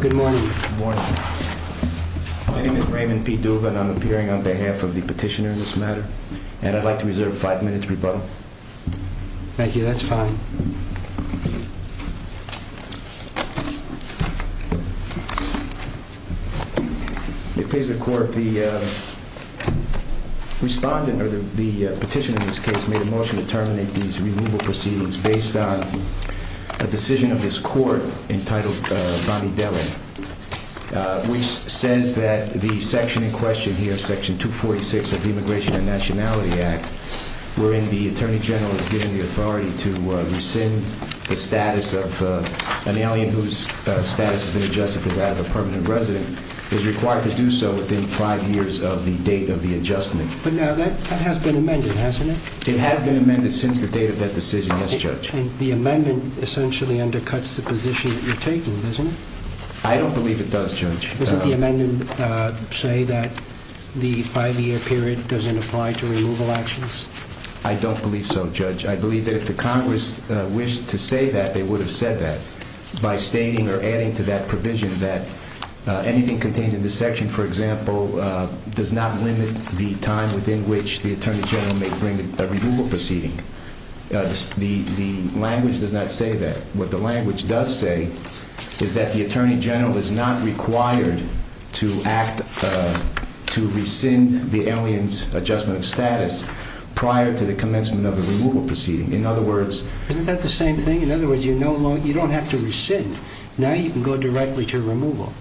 Good morning. My name is Raymond P. Duva and I'm appearing on behalf of the petitioner in this matter and I'd like to reserve five minutes for rebuttal. Thank you. That's fine. It please the court, the respondent or the petitioner in this case made a motion to terminate these removal proceedings based on a decision of this court entitled Bonnie Dellin, which says that the section in question here, section 246 of the Immigration and Nationality Act, wherein the Attorney General is given the authority to rescind the status of an alien whose status has been adjusted to that of a permanent resident, is required to do so within five years of the date of the adjustment. But now that has been amended, hasn't it? It has been amended since the date of that decision, yes, Judge. And the amendment essentially undercuts the position that you're taking, doesn't it? I don't believe it does, Judge. Doesn't the amendment say that the five-year period doesn't apply to removal actions? I don't believe so, Judge. I believe that if the Congress wished to say that, they would have said that by stating or adding to that provision that anything contained in this section, for example, does not limit the time within which the Attorney General may bring a removal proceeding. The language does not say that. What the language does say is that the Attorney General is not required to act to rescind the alien's adjustment of status prior to the commencement of a removal proceeding. Isn't that the same thing? In other words, you don't have to rescind. Now you can go directly to removal.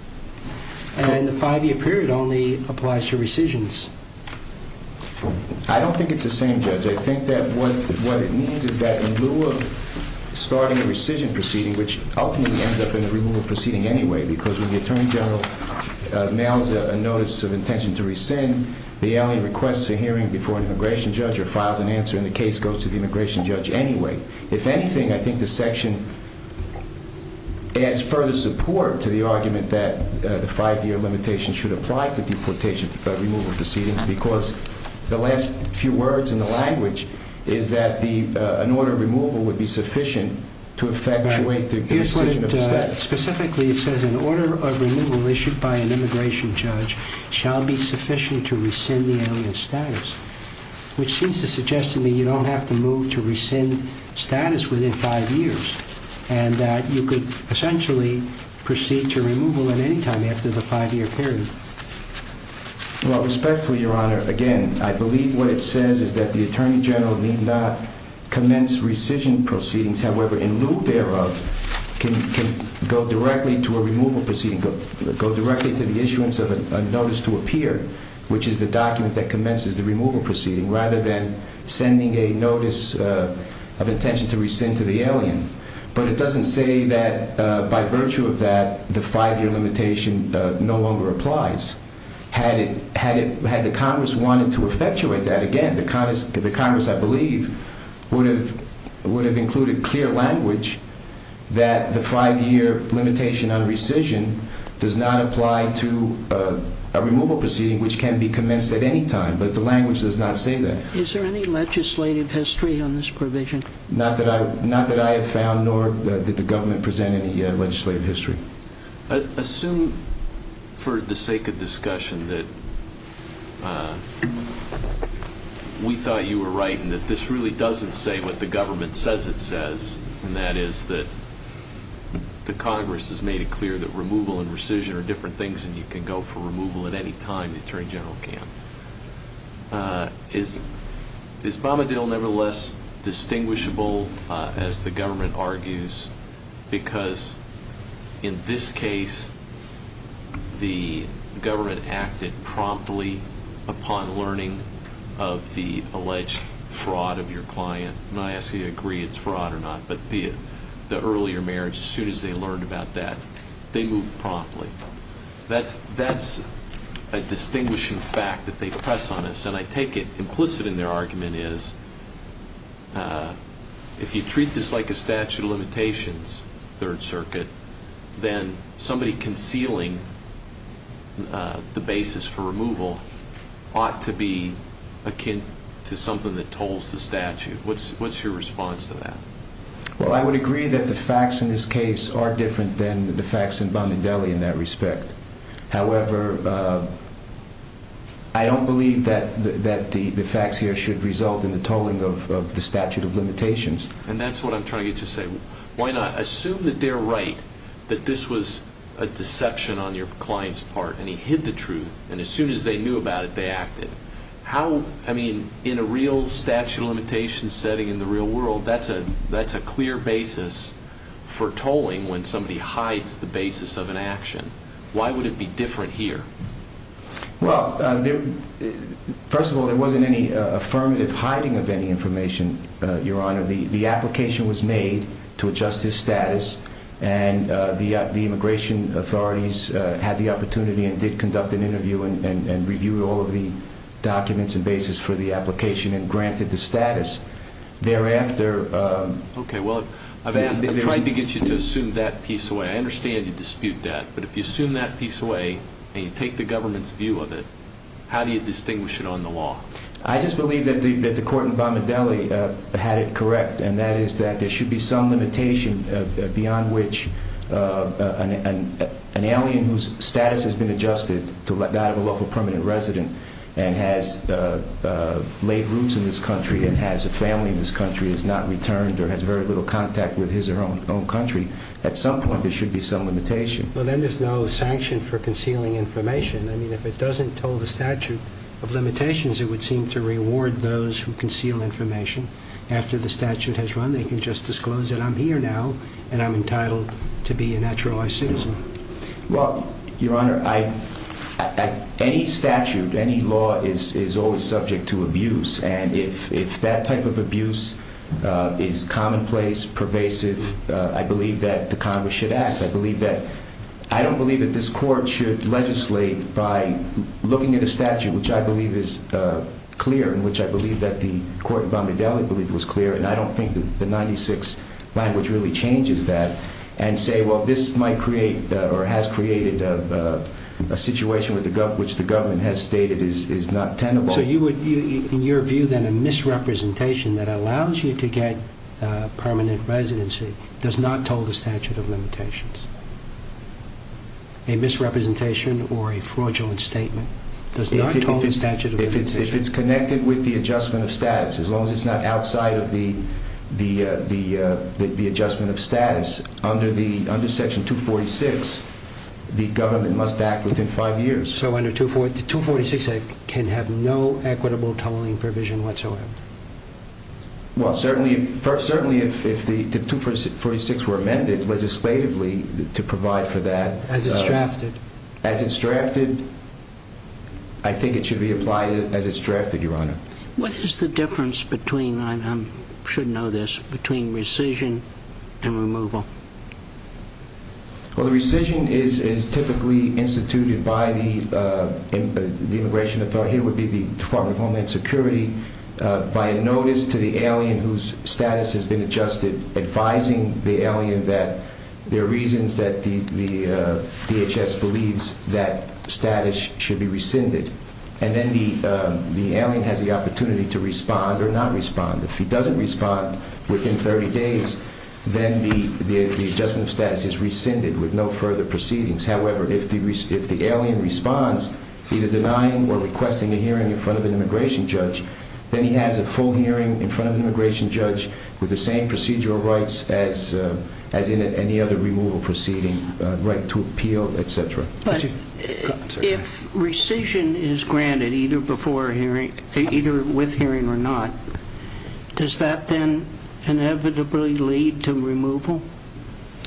And the five-year period only applies to rescissions. I don't think it's the same, Judge. I think that what it means is that in lieu of starting a rescission proceeding, which ultimately ends up in a removal proceeding anyway, because when the Attorney General mails a notice of intention to rescind, the alien requests a hearing before an immigration judge or files an answer, and the case goes to the immigration judge anyway. If anything, I think the section adds further support to the argument that the five-year limitation should apply to deportation removal proceedings because the last few words in the language is that an order of removal would be sufficient to effectuate the decision of status. Specifically, it says an order of removal issued by an immigration judge shall be sufficient to rescind the alien's status, which seems to suggest to me you don't have to move to rescind status within five years and that you could essentially proceed to removal at any time after the five-year period. Well, respectfully, Your Honor, again, I believe what it says is that the Attorney General need not commence rescission proceedings. However, in lieu thereof, can go directly to a removal proceeding, go directly to the issuance of a notice to appear, which is the document that commences the removal proceeding, rather than sending a notice of intention to rescind to the alien. But it doesn't say that by virtue of that, the five-year limitation no longer applies. Had the Congress wanted to effectuate that, again, the Congress, I believe, would have included clear language that the five-year limitation on rescission does not apply to a removal proceeding which can be commenced at any time, but the language does not say that. Is there any legislative history on this provision? Not that I have found, nor did the government present any legislative history. Assume for the sake of discussion that we thought you were right and that this really doesn't say what the government says it says, and that is that the Congress has made it clear that removal and rescission are different things and you can go for removal at any time the Attorney General can. Is Bombadil nevertheless distinguishable, as the government argues, because in this case the government acted promptly upon learning of the alleged fraud of your client? I'm not asking you to agree it's fraud or not, but the earlier marriage, as soon as they learned about that, they moved promptly. That's a distinguishing fact that they press on us, and I take it implicit in their argument is if you treat this like a statute of limitations, Third Circuit, then somebody concealing the basis for removal ought to be akin to something that tolls the statute. What's your response to that? Well, I would agree that the facts in this case are different than the facts in Bombadil in that respect. However, I don't believe that the facts here should result in the tolling of the statute of limitations. And that's what I'm trying to get to say. Why not assume that they're right, that this was a deception on your client's part, and he hid the truth, and as soon as they knew about it, they acted. In a real statute of limitations setting in the real world, that's a clear basis for tolling when somebody hides the basis of an action. Why would it be different here? Well, first of all, there wasn't any affirmative hiding of any information, Your Honor. The application was made to adjust his status, and the immigration authorities had the opportunity and did conduct an interview and reviewed all of the documents and basis for the application and granted the status. Thereafter... Okay, well, I've tried to get you to assume that piece away. I understand you dispute that, but if you assume that piece away and you take the government's view of it, how do you distinguish it on the law? I just believe that the court in Bombadil had it correct, and that is that there should be some limitation beyond which an alien whose status has been adjusted to that of a local permanent resident and has laid roots in this country and has a family in this country, has not returned or has very little contact with his or her own country, at some point there should be some limitation. Well, then there's no sanction for concealing information. I mean, if it doesn't toll the statute of limitations, it would seem to reward those who conceal information. After the statute has run, they can just disclose that I'm here now, and I'm entitled to be a naturalized citizen. Well, Your Honor, any statute, any law is always subject to abuse, and if that type of abuse is commonplace, pervasive, I believe that the Congress should act. I don't believe that this court should legislate by looking at a statute, which I believe is clear and which I believe that the court in Bombadil believed was clear, and I don't think the 96 language really changes that, and say, well, this might create or has created a situation which the government has stated is not tenable. So in your view, then, a misrepresentation that allows you to get permanent residency does not toll the statute of limitations? A misrepresentation or a fraudulent statement does not toll the statute of limitations? If it's connected with the adjustment of status, as long as it's not outside of the adjustment of status, under Section 246, the government must act within five years. So under 246, it can have no equitable tolling provision whatsoever? Well, certainly if the 246 were amended legislatively to provide for that. As it's drafted? As it's drafted, I think it should be applied as it's drafted, Your Honor. What is the difference between, I should know this, between rescission and removal? Well, the rescission is typically instituted by the immigration authority. Here would be the Department of Homeland Security, by a notice to the alien whose status has been adjusted, advising the alien that there are reasons that the DHS believes that status should be rescinded. And then the alien has the opportunity to respond or not respond. If he doesn't respond within 30 days, then the adjustment of status is rescinded with no further proceedings. However, if the alien responds, either denying or requesting a hearing in front of an immigration judge, then he has a full hearing in front of an immigration judge with the same procedural rights as any other removal proceeding, right to appeal, et cetera. But if rescission is granted, either with hearing or not, does that then inevitably lead to removal?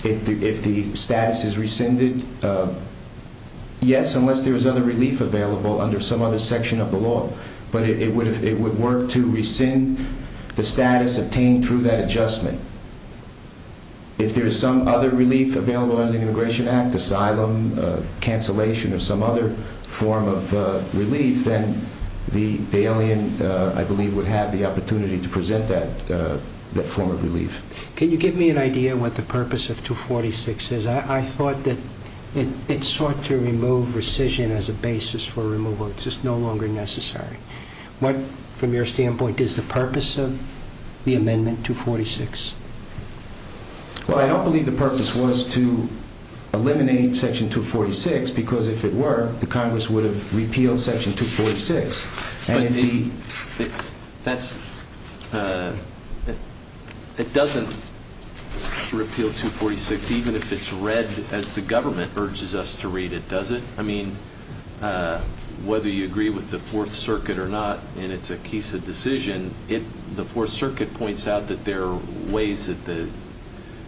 If the status is rescinded, yes, unless there is other relief available under some other section of the law. But it would work to rescind the status obtained through that adjustment. If there is some other relief available under the Immigration Act, asylum, cancellation, or some other form of relief, then the alien, I believe, would have the opportunity to present that form of relief. Can you give me an idea what the purpose of 246 is? I thought that it sought to remove rescission as a basis for removal. It's just no longer necessary. What, from your standpoint, is the purpose of the amendment 246? Well, I don't believe the purpose was to eliminate Section 246 because if it were, the Congress would have repealed Section 246. But it doesn't repeal 246 even if it's read as the government urges us to read it, does it? I mean, whether you agree with the Fourth Circuit or not, and it's a case of decision, the Fourth Circuit points out that there are ways that the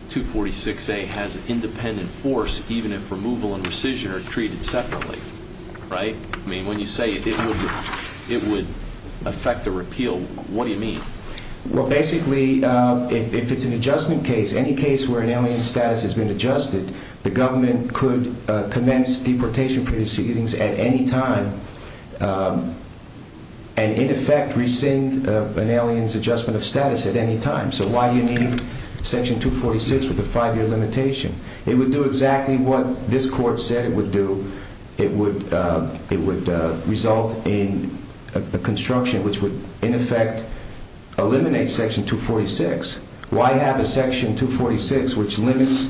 246A has independent force even if removal and rescission are treated separately, right? I mean, when you say it would affect a repeal, what do you mean? Well, basically, if it's an adjustment case, any case where an alien's status has been adjusted, the government could commence deportation proceedings at any time and, in effect, rescind an alien's adjustment of status at any time. So why do you need Section 246 with a five-year limitation? It would do exactly what this Court said it would do. It would result in a construction which would, in effect, eliminate Section 246. Why have a Section 246 which limits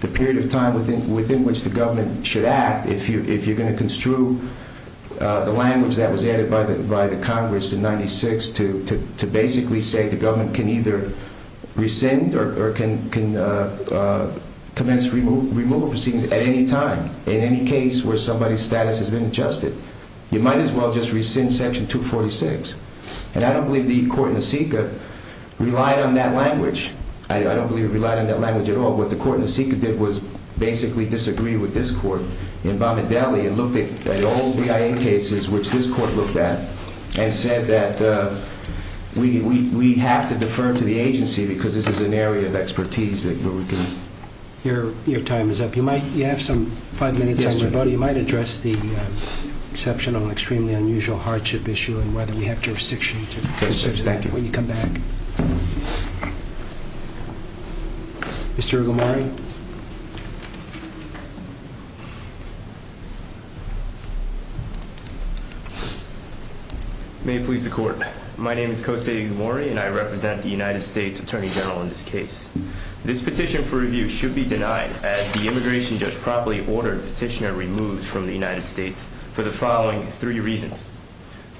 the period of time within which the government should act if you're going to construe the language that was added by the Congress in 96 to basically say the government can either rescind or can commence removal proceedings at any time? In any case where somebody's status has been adjusted, you might as well just rescind Section 246. And I don't believe the court in Niseka relied on that language. I don't believe it relied on that language at all. What the court in Niseka did was basically disagree with this court in Bombardelli and looked at old BIA cases, which this court looked at, and said that we have to defer to the agency because this is an area of expertise that we're looking at. Your time is up. You have some five minutes on your buddy. You might address the exception of an extremely unusual hardship issue and whether we have jurisdiction to pursue that when you come back. Thank you. Mr. Egomori? May it please the Court. My name is Kose Egomori, and I represent the United States Attorney General in this case. This petition for review should be denied as the immigration judge promptly ordered the petitioner removed from the United States for the following three reasons.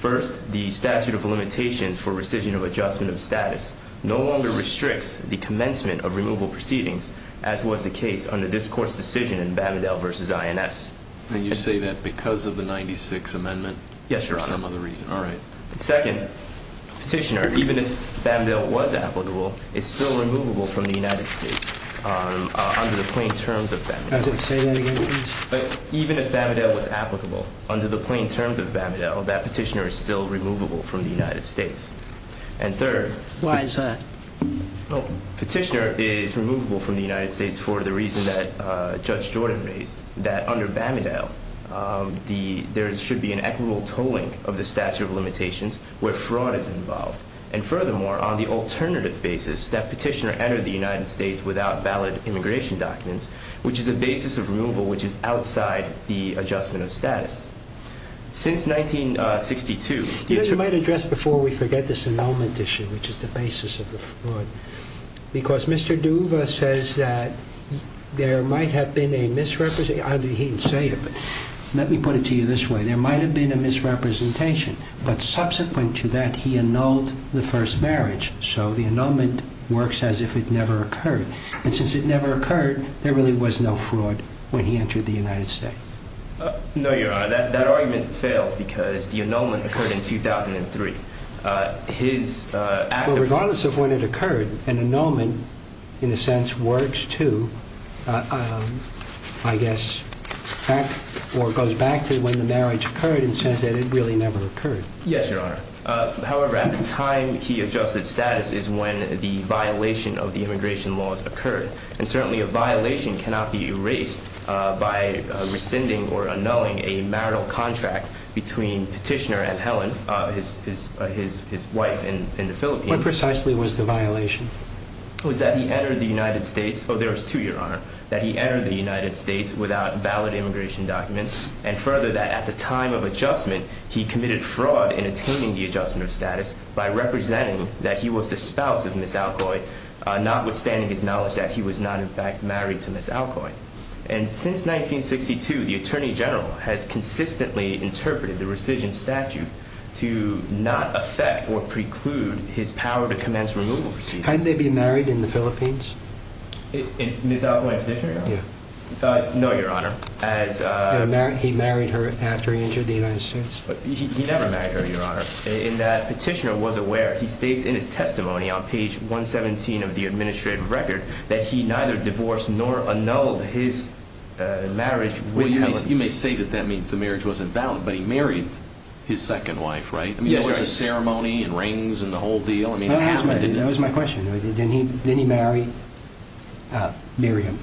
First, the statute of limitations for rescission of adjustment of status no longer restricts the commencement of removal proceedings, as was the case under this court's decision in Bombardelli v. INS. And you say that because of the 96 amendment? Yes, Your Honor. For some other reason. All right. Second, petitioner, even if Bombardelli was applicable, is still removable from the United States under the plain terms of Bombardelli. Say that again, please. Even if Bombardelli was applicable under the plain terms of Bombardelli, that petitioner is still removable from the United States. And third. Why is that? Petitioner is removable from the United States for the reason that Judge Jordan raised, that under Bombardelli, there should be an equitable tolling of the statute of limitations where fraud is involved. And furthermore, on the alternative basis, that petitioner enter the United States without valid immigration documents, which is a basis of removal which is outside the adjustment of status. Since 1962... You know, you might address before we forget this annulment issue, which is the basis of the fraud. Because Mr. Duva says that there might have been a misrepresentation. He didn't say it, but let me put it to you this way. There might have been a misrepresentation, but subsequent to that, he annulled the first marriage. So the annulment works as if it never occurred. And since it never occurred, there really was no fraud when he entered the United States. No, Your Honor. That argument fails because the annulment occurred in 2003. Regardless of when it occurred, an annulment, in a sense, works to, I guess, or goes back to when the marriage occurred and says that it really never occurred. Yes, Your Honor. However, at the time he adjusted status is when the violation of the immigration laws occurred. And certainly a violation cannot be erased by rescinding or annulling a marital contract between petitioner and Helen, his wife in the Philippines. What precisely was the violation? It was that he entered the United States. Oh, there was two, Your Honor. That he entered the United States without valid immigration documents. And further, that at the time of adjustment, he committed fraud in attaining the adjustment of status by representing that he was the spouse of Ms. Alcoy. Notwithstanding his knowledge that he was not, in fact, married to Ms. Alcoy. And since 1962, the Attorney General has consistently interpreted the rescission statute to not affect or preclude his power to commence removal proceedings. Had they been married in the Philippines? Ms. Alcoy and petitioner? Yeah. No, Your Honor. He married her after he entered the United States? He never married her, Your Honor. And that petitioner was aware. He states in his testimony on page 117 of the administrative record that he neither divorced nor annulled his marriage with Helen. Well, you may say that that means the marriage wasn't valid, but he married his second wife, right? Yes, Your Honor. I mean, there was a ceremony and rings and the whole deal. That was my question. Didn't he marry Miriam?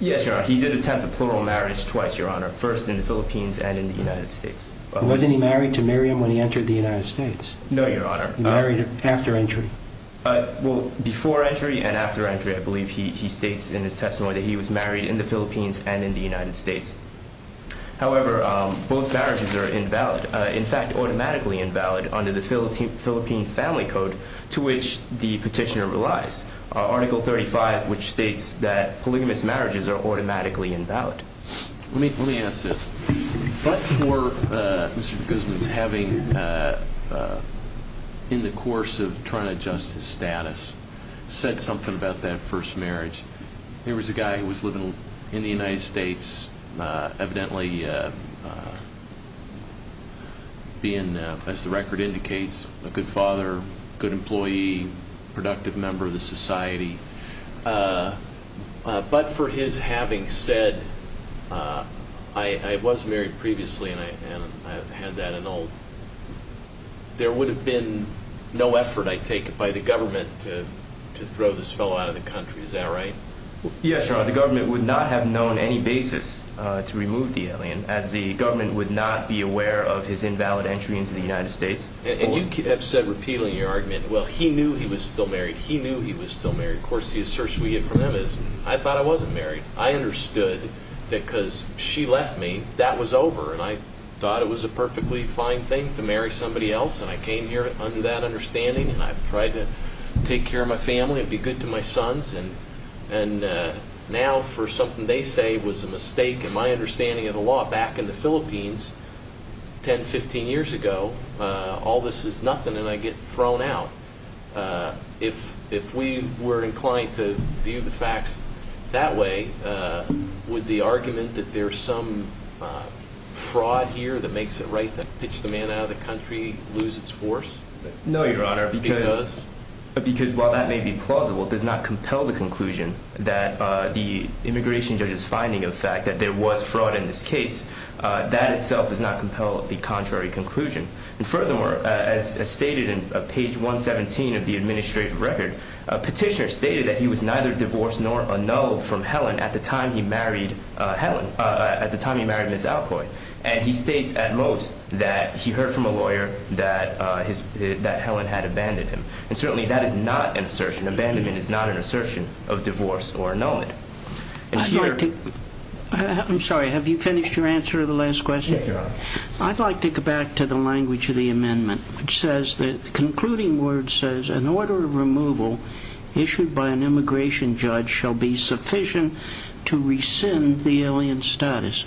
Yes, Your Honor. He did attempt a plural marriage twice, Your Honor, first in the Philippines and in the United States. Wasn't he married to Miriam when he entered the United States? No, Your Honor. He married her after entry? Well, before entry and after entry, I believe he states in his testimony that he was married in the Philippines and in the United States. However, both marriages are invalid, in fact, automatically invalid under the Philippine Family Code to which the petitioner relies, Article 35, which states that polygamous marriages are automatically invalid. Let me answer this. But for Mr. Guzman's having, in the course of trying to adjust his status, said something about that first marriage, there was a guy who was living in the United States, evidently being, as the record indicates, a good father, good employee, productive member of the society. But for his having said, I was married previously and I had that and all, there would have been no effort, I take it, by the government to throw this fellow out of the country. Is that right? Yes, Your Honor. The government would not have known any basis to remove the alien, as the government would not be aware of his invalid entry into the United States. And you have said, repealing your argument, well, he knew he was still married. He knew he was still married. Of course, the assertion we get from them is, I thought I wasn't married. I understood that because she left me, that was over. And I thought it was a perfectly fine thing to marry somebody else. And I came here under that understanding. And I've tried to take care of my family and be good to my sons. And now, for something they say was a mistake in my understanding of the law, back in the Philippines 10, 15 years ago, all this is nothing and I get thrown out. If we were inclined to view the facts that way, would the argument that there's some fraud here that makes it right to pitch the man out of the country lose its force? No, Your Honor. It does? Because while that may be plausible, it does not compel the conclusion that the immigration judge's finding of the fact that there was fraud in this case, that itself does not compel the contrary conclusion. And furthermore, as stated in page 117 of the administrative record, a petitioner stated that he was neither divorced nor annulled from Helen at the time he married Ms. Alcoy. And he states, at most, that he heard from a lawyer that Helen had abandoned him. And certainly that is not an assertion. Abandonment is not an assertion of divorce or annulment. I'd like to... I'm sorry, have you finished your answer to the last question? Yes, Your Honor. I'd like to go back to the language of the amendment. It says, the concluding word says, an order of removal issued by an immigration judge shall be sufficient to rescind the alien status.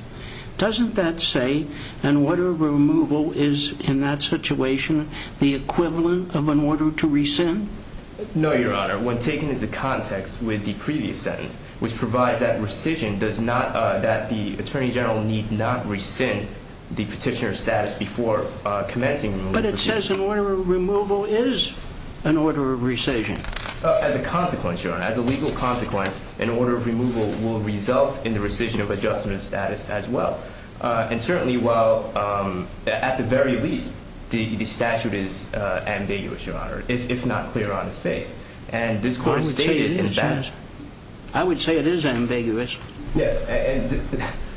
Doesn't that say, an order of removal is, in that situation, the equivalent of an order to rescind? No, Your Honor. When taken into context with the previous sentence, which provides that rescission does not... that the Attorney General need not rescind the petitioner's status before commencing... But it says an order of removal is an order of rescission. As a consequence, Your Honor, as a legal consequence, an order of removal will result in the rescission of adjustment of status as well. And certainly while, at the very least, the statute is ambiguous, Your Honor, if not clear on its face. And this court has stated... I would say it is ambiguous. I would say it is ambiguous. Yes, and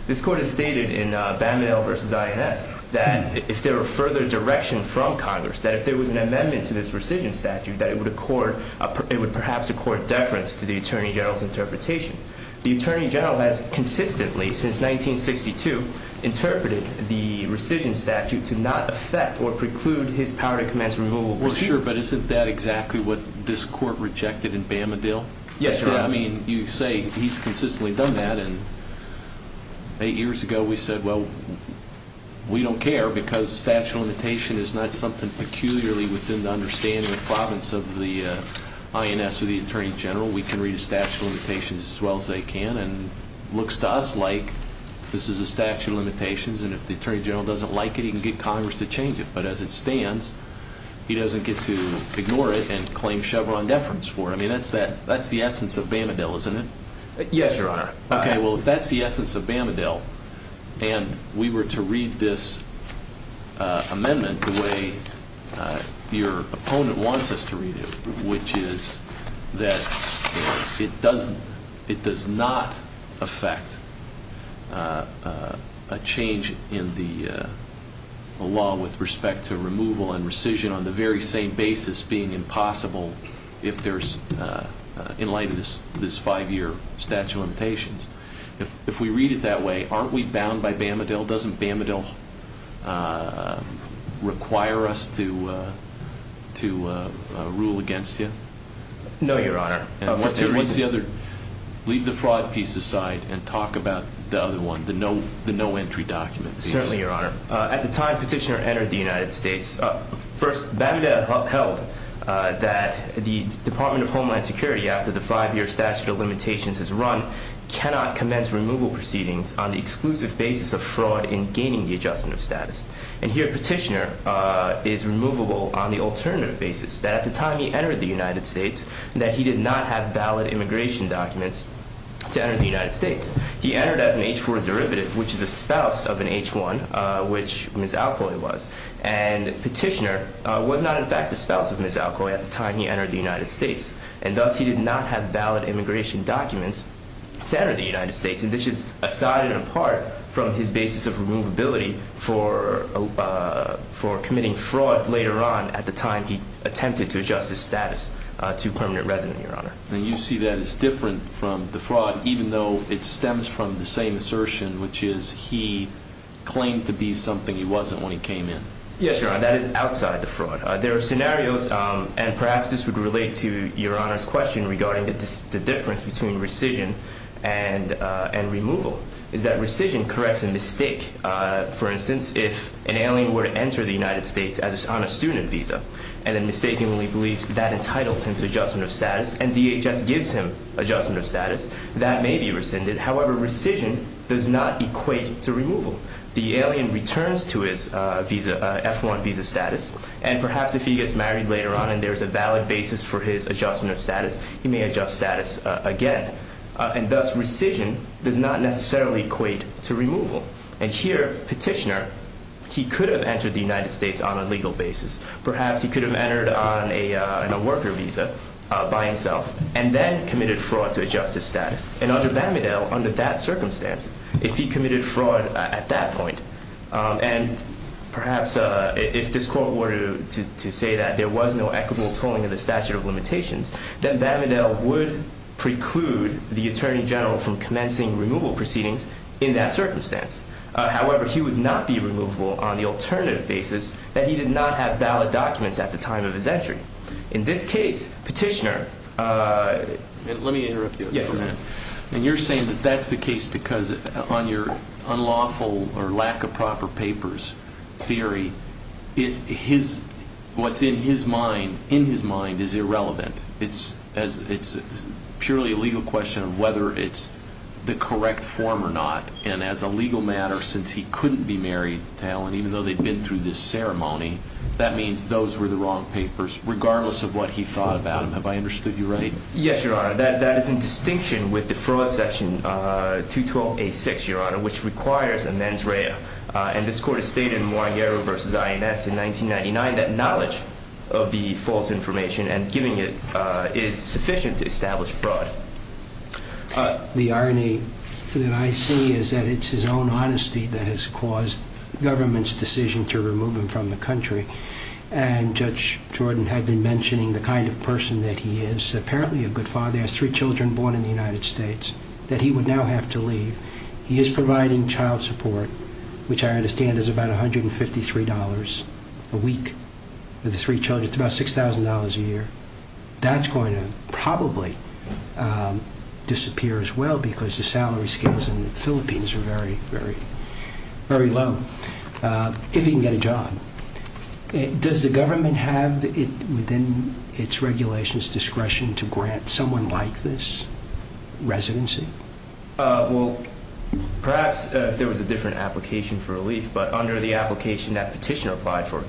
this court has stated in Baminell v. INS that if there were further direction from Congress, that if there was an amendment to this rescission statute, that it would perhaps accord deference to the Attorney General's interpretation. The Attorney General has consistently, since 1962, interpreted the rescission statute to not affect or preclude his power to commence removal. Well, sure, but isn't that exactly what this court rejected in Baminell? Yes, Your Honor. I mean, you say he's consistently done that, and eight years ago we said, well, we don't care because the statute of limitations is not something peculiarly within the understanding of the province of the INS or the Attorney General. We can read a statute of limitations as well as they can, and it looks to us like this is a statute of limitations, and if the Attorney General doesn't like it, he can get Congress to change it. But as it stands, he doesn't get to ignore it and claim Chevron deference for it. I mean, that's the essence of Baminell, isn't it? Yes, Your Honor. Okay, well, if that's the essence of Baminell, and we were to read this amendment the way your opponent wants us to read it, which is that it does not affect a change in the law with respect to removal and rescission on the very same basis being impossible in light of this five-year statute of limitations. If we read it that way, aren't we bound by Baminell? Doesn't Baminell require us to rule against you? No, Your Honor. What's the other? Leave the fraud piece aside and talk about the other one, the no entry document piece. Certainly, Your Honor. At the time Petitioner entered the United States, first, Baminell upheld that the Department of Homeland Security, after the five-year statute of limitations is run, cannot commence removal proceedings on the exclusive basis of fraud in gaining the adjustment of status. And here Petitioner is removable on the alternative basis, that at the time he entered the United States, that he did not have valid immigration documents to enter the United States. He entered as an H-4 derivative, which is a spouse of an H-1, which Ms. Alcoy was. And Petitioner was not, in fact, the spouse of Ms. Alcoy at the time he entered the United States. And thus, he did not have valid immigration documents to enter the United States. And this is aside and apart from his basis of removability for committing fraud later on, at the time he attempted to adjust his status to permanent residence, Your Honor. And you see that as different from the fraud, even though it stems from the same assertion, which is he claimed to be something he wasn't when he came in. Yes, Your Honor. That is outside the fraud. There are scenarios, and perhaps this would relate to Your Honor's question regarding the difference between rescission and removal, is that rescission corrects a mistake. For instance, if an alien were to enter the United States on a student visa, and then mistakenly believes that entitles him to adjustment of status, and DHS gives him adjustment of status, that may be rescinded. However, rescission does not equate to removal. The alien returns to his F-1 visa status, and perhaps if he gets married later on and there is a valid basis for his adjustment of status, he may adjust status again. And thus, rescission does not necessarily equate to removal. And here, Petitioner, he could have entered the United States on a legal basis. Perhaps he could have entered on a worker visa by himself, and then committed fraud to adjust his status. And under Bammedale, under that circumstance, if he committed fraud at that point, and perhaps if this Court were to say that there was no equitable tolling of the statute of limitations, then Bammedale would preclude the Attorney General from commencing removal proceedings in that circumstance. However, he would not be removable on the alternative basis that he did not have valid documents at the time of his entry. In this case, Petitioner... Let me interrupt you for a minute. And you're saying that that's the case because on your unlawful or lack of proper papers theory, what's in his mind is irrelevant. It's purely a legal question of whether it's the correct form or not. And as a legal matter, since he couldn't be married to Helen, even though they'd been through this ceremony, that means those were the wrong papers, regardless of what he thought about them. Have I understood you right? Yes, Your Honor. That is in distinction with the Fraud Section 212-A-6, Your Honor, which requires a mens rea. And this Court has stated in Moiré versus INS in 1999 that knowledge of the false information and giving it is sufficient to establish fraud. The irony that I see is that it's his own honesty that has caused the government's decision to remove him from the country. And Judge Jordan had been mentioning the kind of person that he is. Apparently a good father. He has three children born in the United States that he would now have to leave. He is providing child support, which I understand is about $153 a week for the three children. It's about $6,000 a year. That's going to probably disappear as well because the salary scales in the Philippines are very, very low, if he can get a job. Does the government have within its regulations discretion to grant someone like this residency? Well, perhaps if there was a different application for relief, but under the application that petitioner applied for,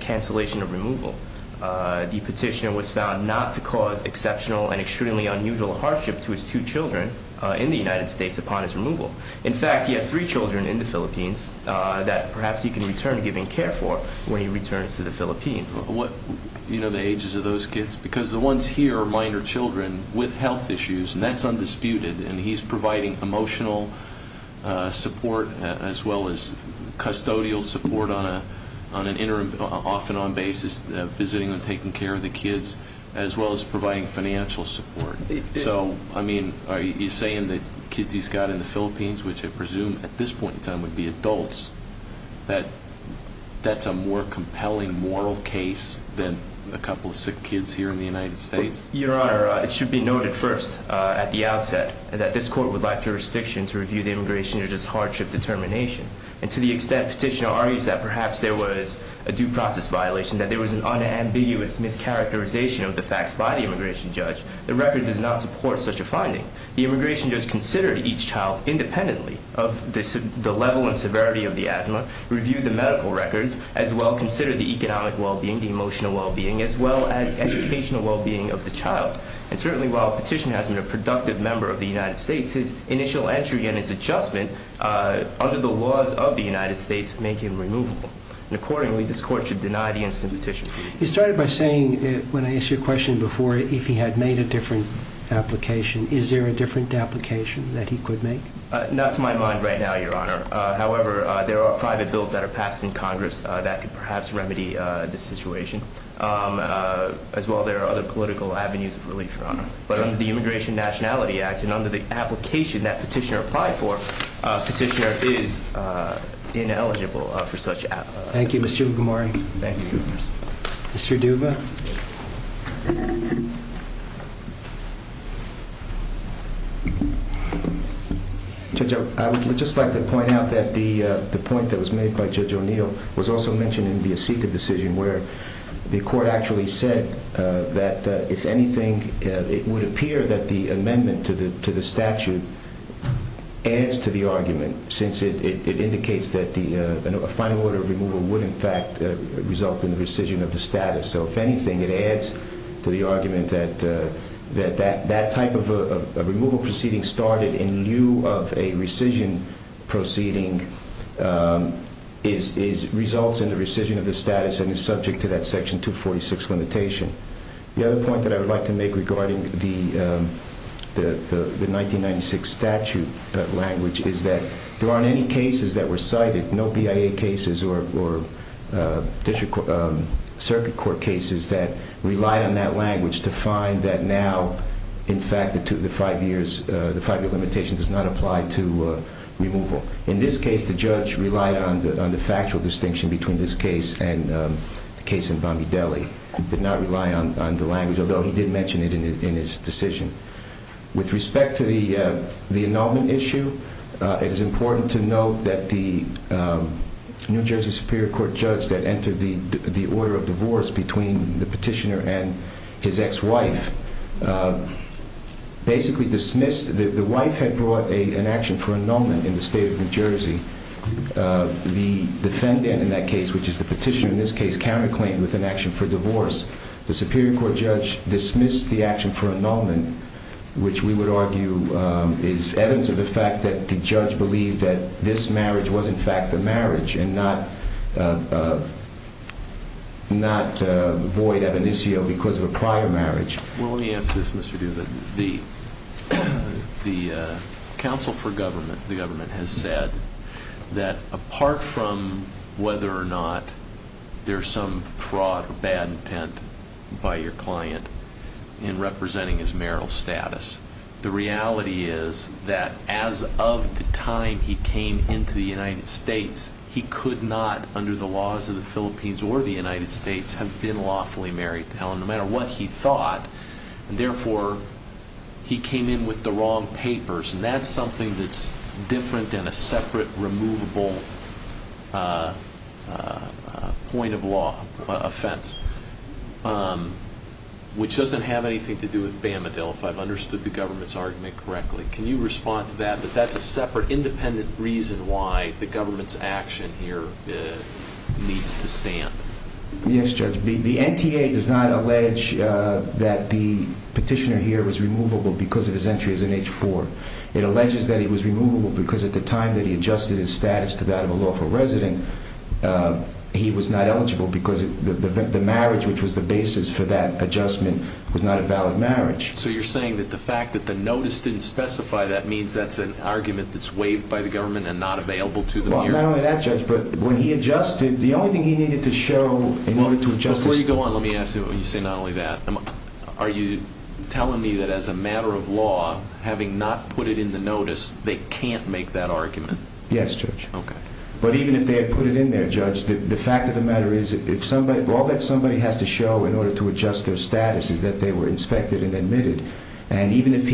exceptional and extremely unusual hardship to his two children in the United States upon his removal. In fact, he has three children in the Philippines that perhaps he can return to giving care for when he returns to the Philippines. You know the ages of those kids? Because the ones here are minor children with health issues, and that's undisputed. And he's providing emotional support as well as custodial support on an interim, off and on basis, visiting and taking care of the kids as well as providing financial support. So, I mean, are you saying that kids he's got in the Philippines, which I presume at this point in time would be adults, that that's a more compelling moral case than a couple of sick kids here in the United States? Your Honor, it should be noted first at the outset that this court would like jurisdiction to review the immigration judge's hardship determination. And to the extent petitioner argues that perhaps there was a due process violation, that there was an unambiguous mischaracterization of the facts by the immigration judge, the record does not support such a finding. The immigration judge considered each child independently of the level and severity of the asthma, reviewed the medical records, as well considered the economic well-being, the emotional well-being, as well as educational well-being of the child. And certainly while petitioner has been a productive member of the United States, his initial entry and his adjustment under the laws of the United States make him removable. And accordingly, this court should deny the instant petition. He started by saying, when I asked you a question before, if he had made a different application, is there a different application that he could make? Not to my mind right now, Your Honor. However, there are private bills that are passed in Congress that could perhaps remedy this situation. As well, there are other political avenues of relief, Your Honor. But under the Immigration Nationality Act and under the application that petitioner applied for, petitioner is ineligible for such an application. Thank you, Mr. McMurray. Thank you. Mr. Duva. Judge, I would just like to point out that the point that was made by Judge O'Neill was also mentioned in the Asika decision, where the court actually said that, if anything, it would appear that the amendment to the statute adds to the argument, since it indicates that a final order of removal would, in fact, result in the rescission of the status. So, if anything, it adds to the argument that that type of removal proceeding started in lieu of a rescission proceeding results in the rescission of the status and is subject to that Section 246 limitation. The other point that I would like to make regarding the 1996 statute language is that there aren't any cases that were cited, no BIA cases or circuit court cases that relied on that language to find that now, in fact, the five-year limitation does not apply to removal. In this case, the judge relied on the factual distinction between this case and the case in Bombay Deli. He did not rely on the language, although he did mention it in his decision. With respect to the annulment issue, it is important to note that the New Jersey Superior Court judge that entered the order of divorce between the petitioner and his ex-wife basically dismissed that the wife had brought an action for annulment in the state of New Jersey. The defendant in that case, which is the petitioner in this case, counterclaimed with an action for divorce. The Superior Court judge dismissed the action for annulment, which we would argue is evidence of the fact that the judge believed that this marriage was, in fact, a marriage and not void evanescio because of a prior marriage. Well, let me ask this, Mr. Duda. The Council for Government, the government has said that apart from whether or not there's some fraud or bad intent by your client in representing his marital status, the reality is that as of the time he came into the United States, he could not, under the laws of the Philippines or the United States, have been lawfully married. Now, no matter what he thought, and therefore he came in with the wrong papers, and that's something that's different than a separate, removable point of law offense, which doesn't have anything to do with Bamadil, if I've understood the government's argument correctly. Can you respond to that? But that's a separate, independent reason why the government's action here needs to stand. Yes, Judge. The NTA does not allege that the petitioner here was removable because of his entry as an H-4. It alleges that he was removable because at the time that he adjusted his status to that of a lawful resident, he was not eligible because the marriage, which was the basis for that adjustment, was not a valid marriage. So you're saying that the fact that the notice didn't specify that means that's an argument that's waived by the government and not available to the hearing? Well, not only that, Judge, but when he adjusted, the only thing he needed to show in order to adjust his status... Before you go on, let me ask you, when you say not only that, are you telling me that as a matter of law, having not put it in the notice, they can't make that argument? Yes, Judge. Okay. But even if they had put it in there, Judge, the fact of the matter is, all that somebody has to show in order to adjust their status is that they were inspected and admitted. And even if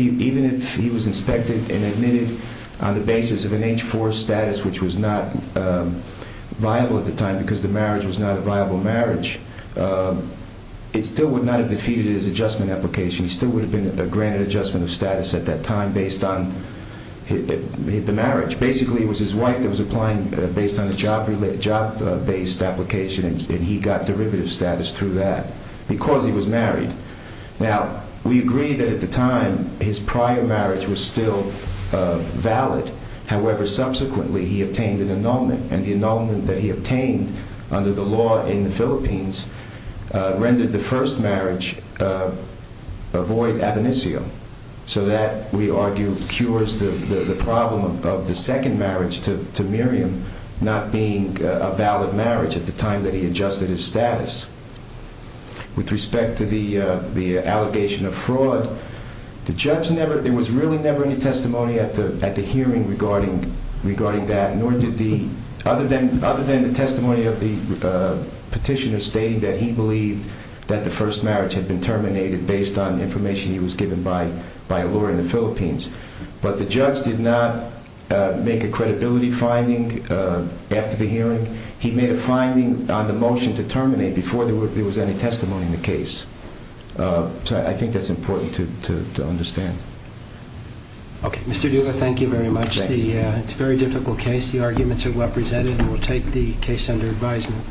he was inspected and admitted on the basis of an H-4 status, which was not viable at the time because the marriage was not a viable marriage, it still would not have defeated his adjustment application. He still would have been granted adjustment of status at that time based on the marriage. Basically, it was his wife that was applying based on a job-based application, Now, we agree that at the time, his prior marriage was still valid. However, subsequently, he obtained an annulment, and the annulment that he obtained under the law in the Philippines rendered the first marriage a void ab initio. So that, we argue, cures the problem of the second marriage to Miriam not being a valid marriage at the time that he adjusted his status. With respect to the allegation of fraud, there was really never any testimony at the hearing regarding that, other than the testimony of the petitioner stating that he believed that the first marriage had been terminated based on information he was given by a lawyer in the Philippines. But the judge did not make a credibility finding after the hearing. He made a finding on the motion to terminate before there was any testimony in the case. So I think that's important to understand. Okay, Mr. Duva, thank you very much. It's a very difficult case. The arguments are well presented, and we'll take the case under advisement. Thank you. Thank you.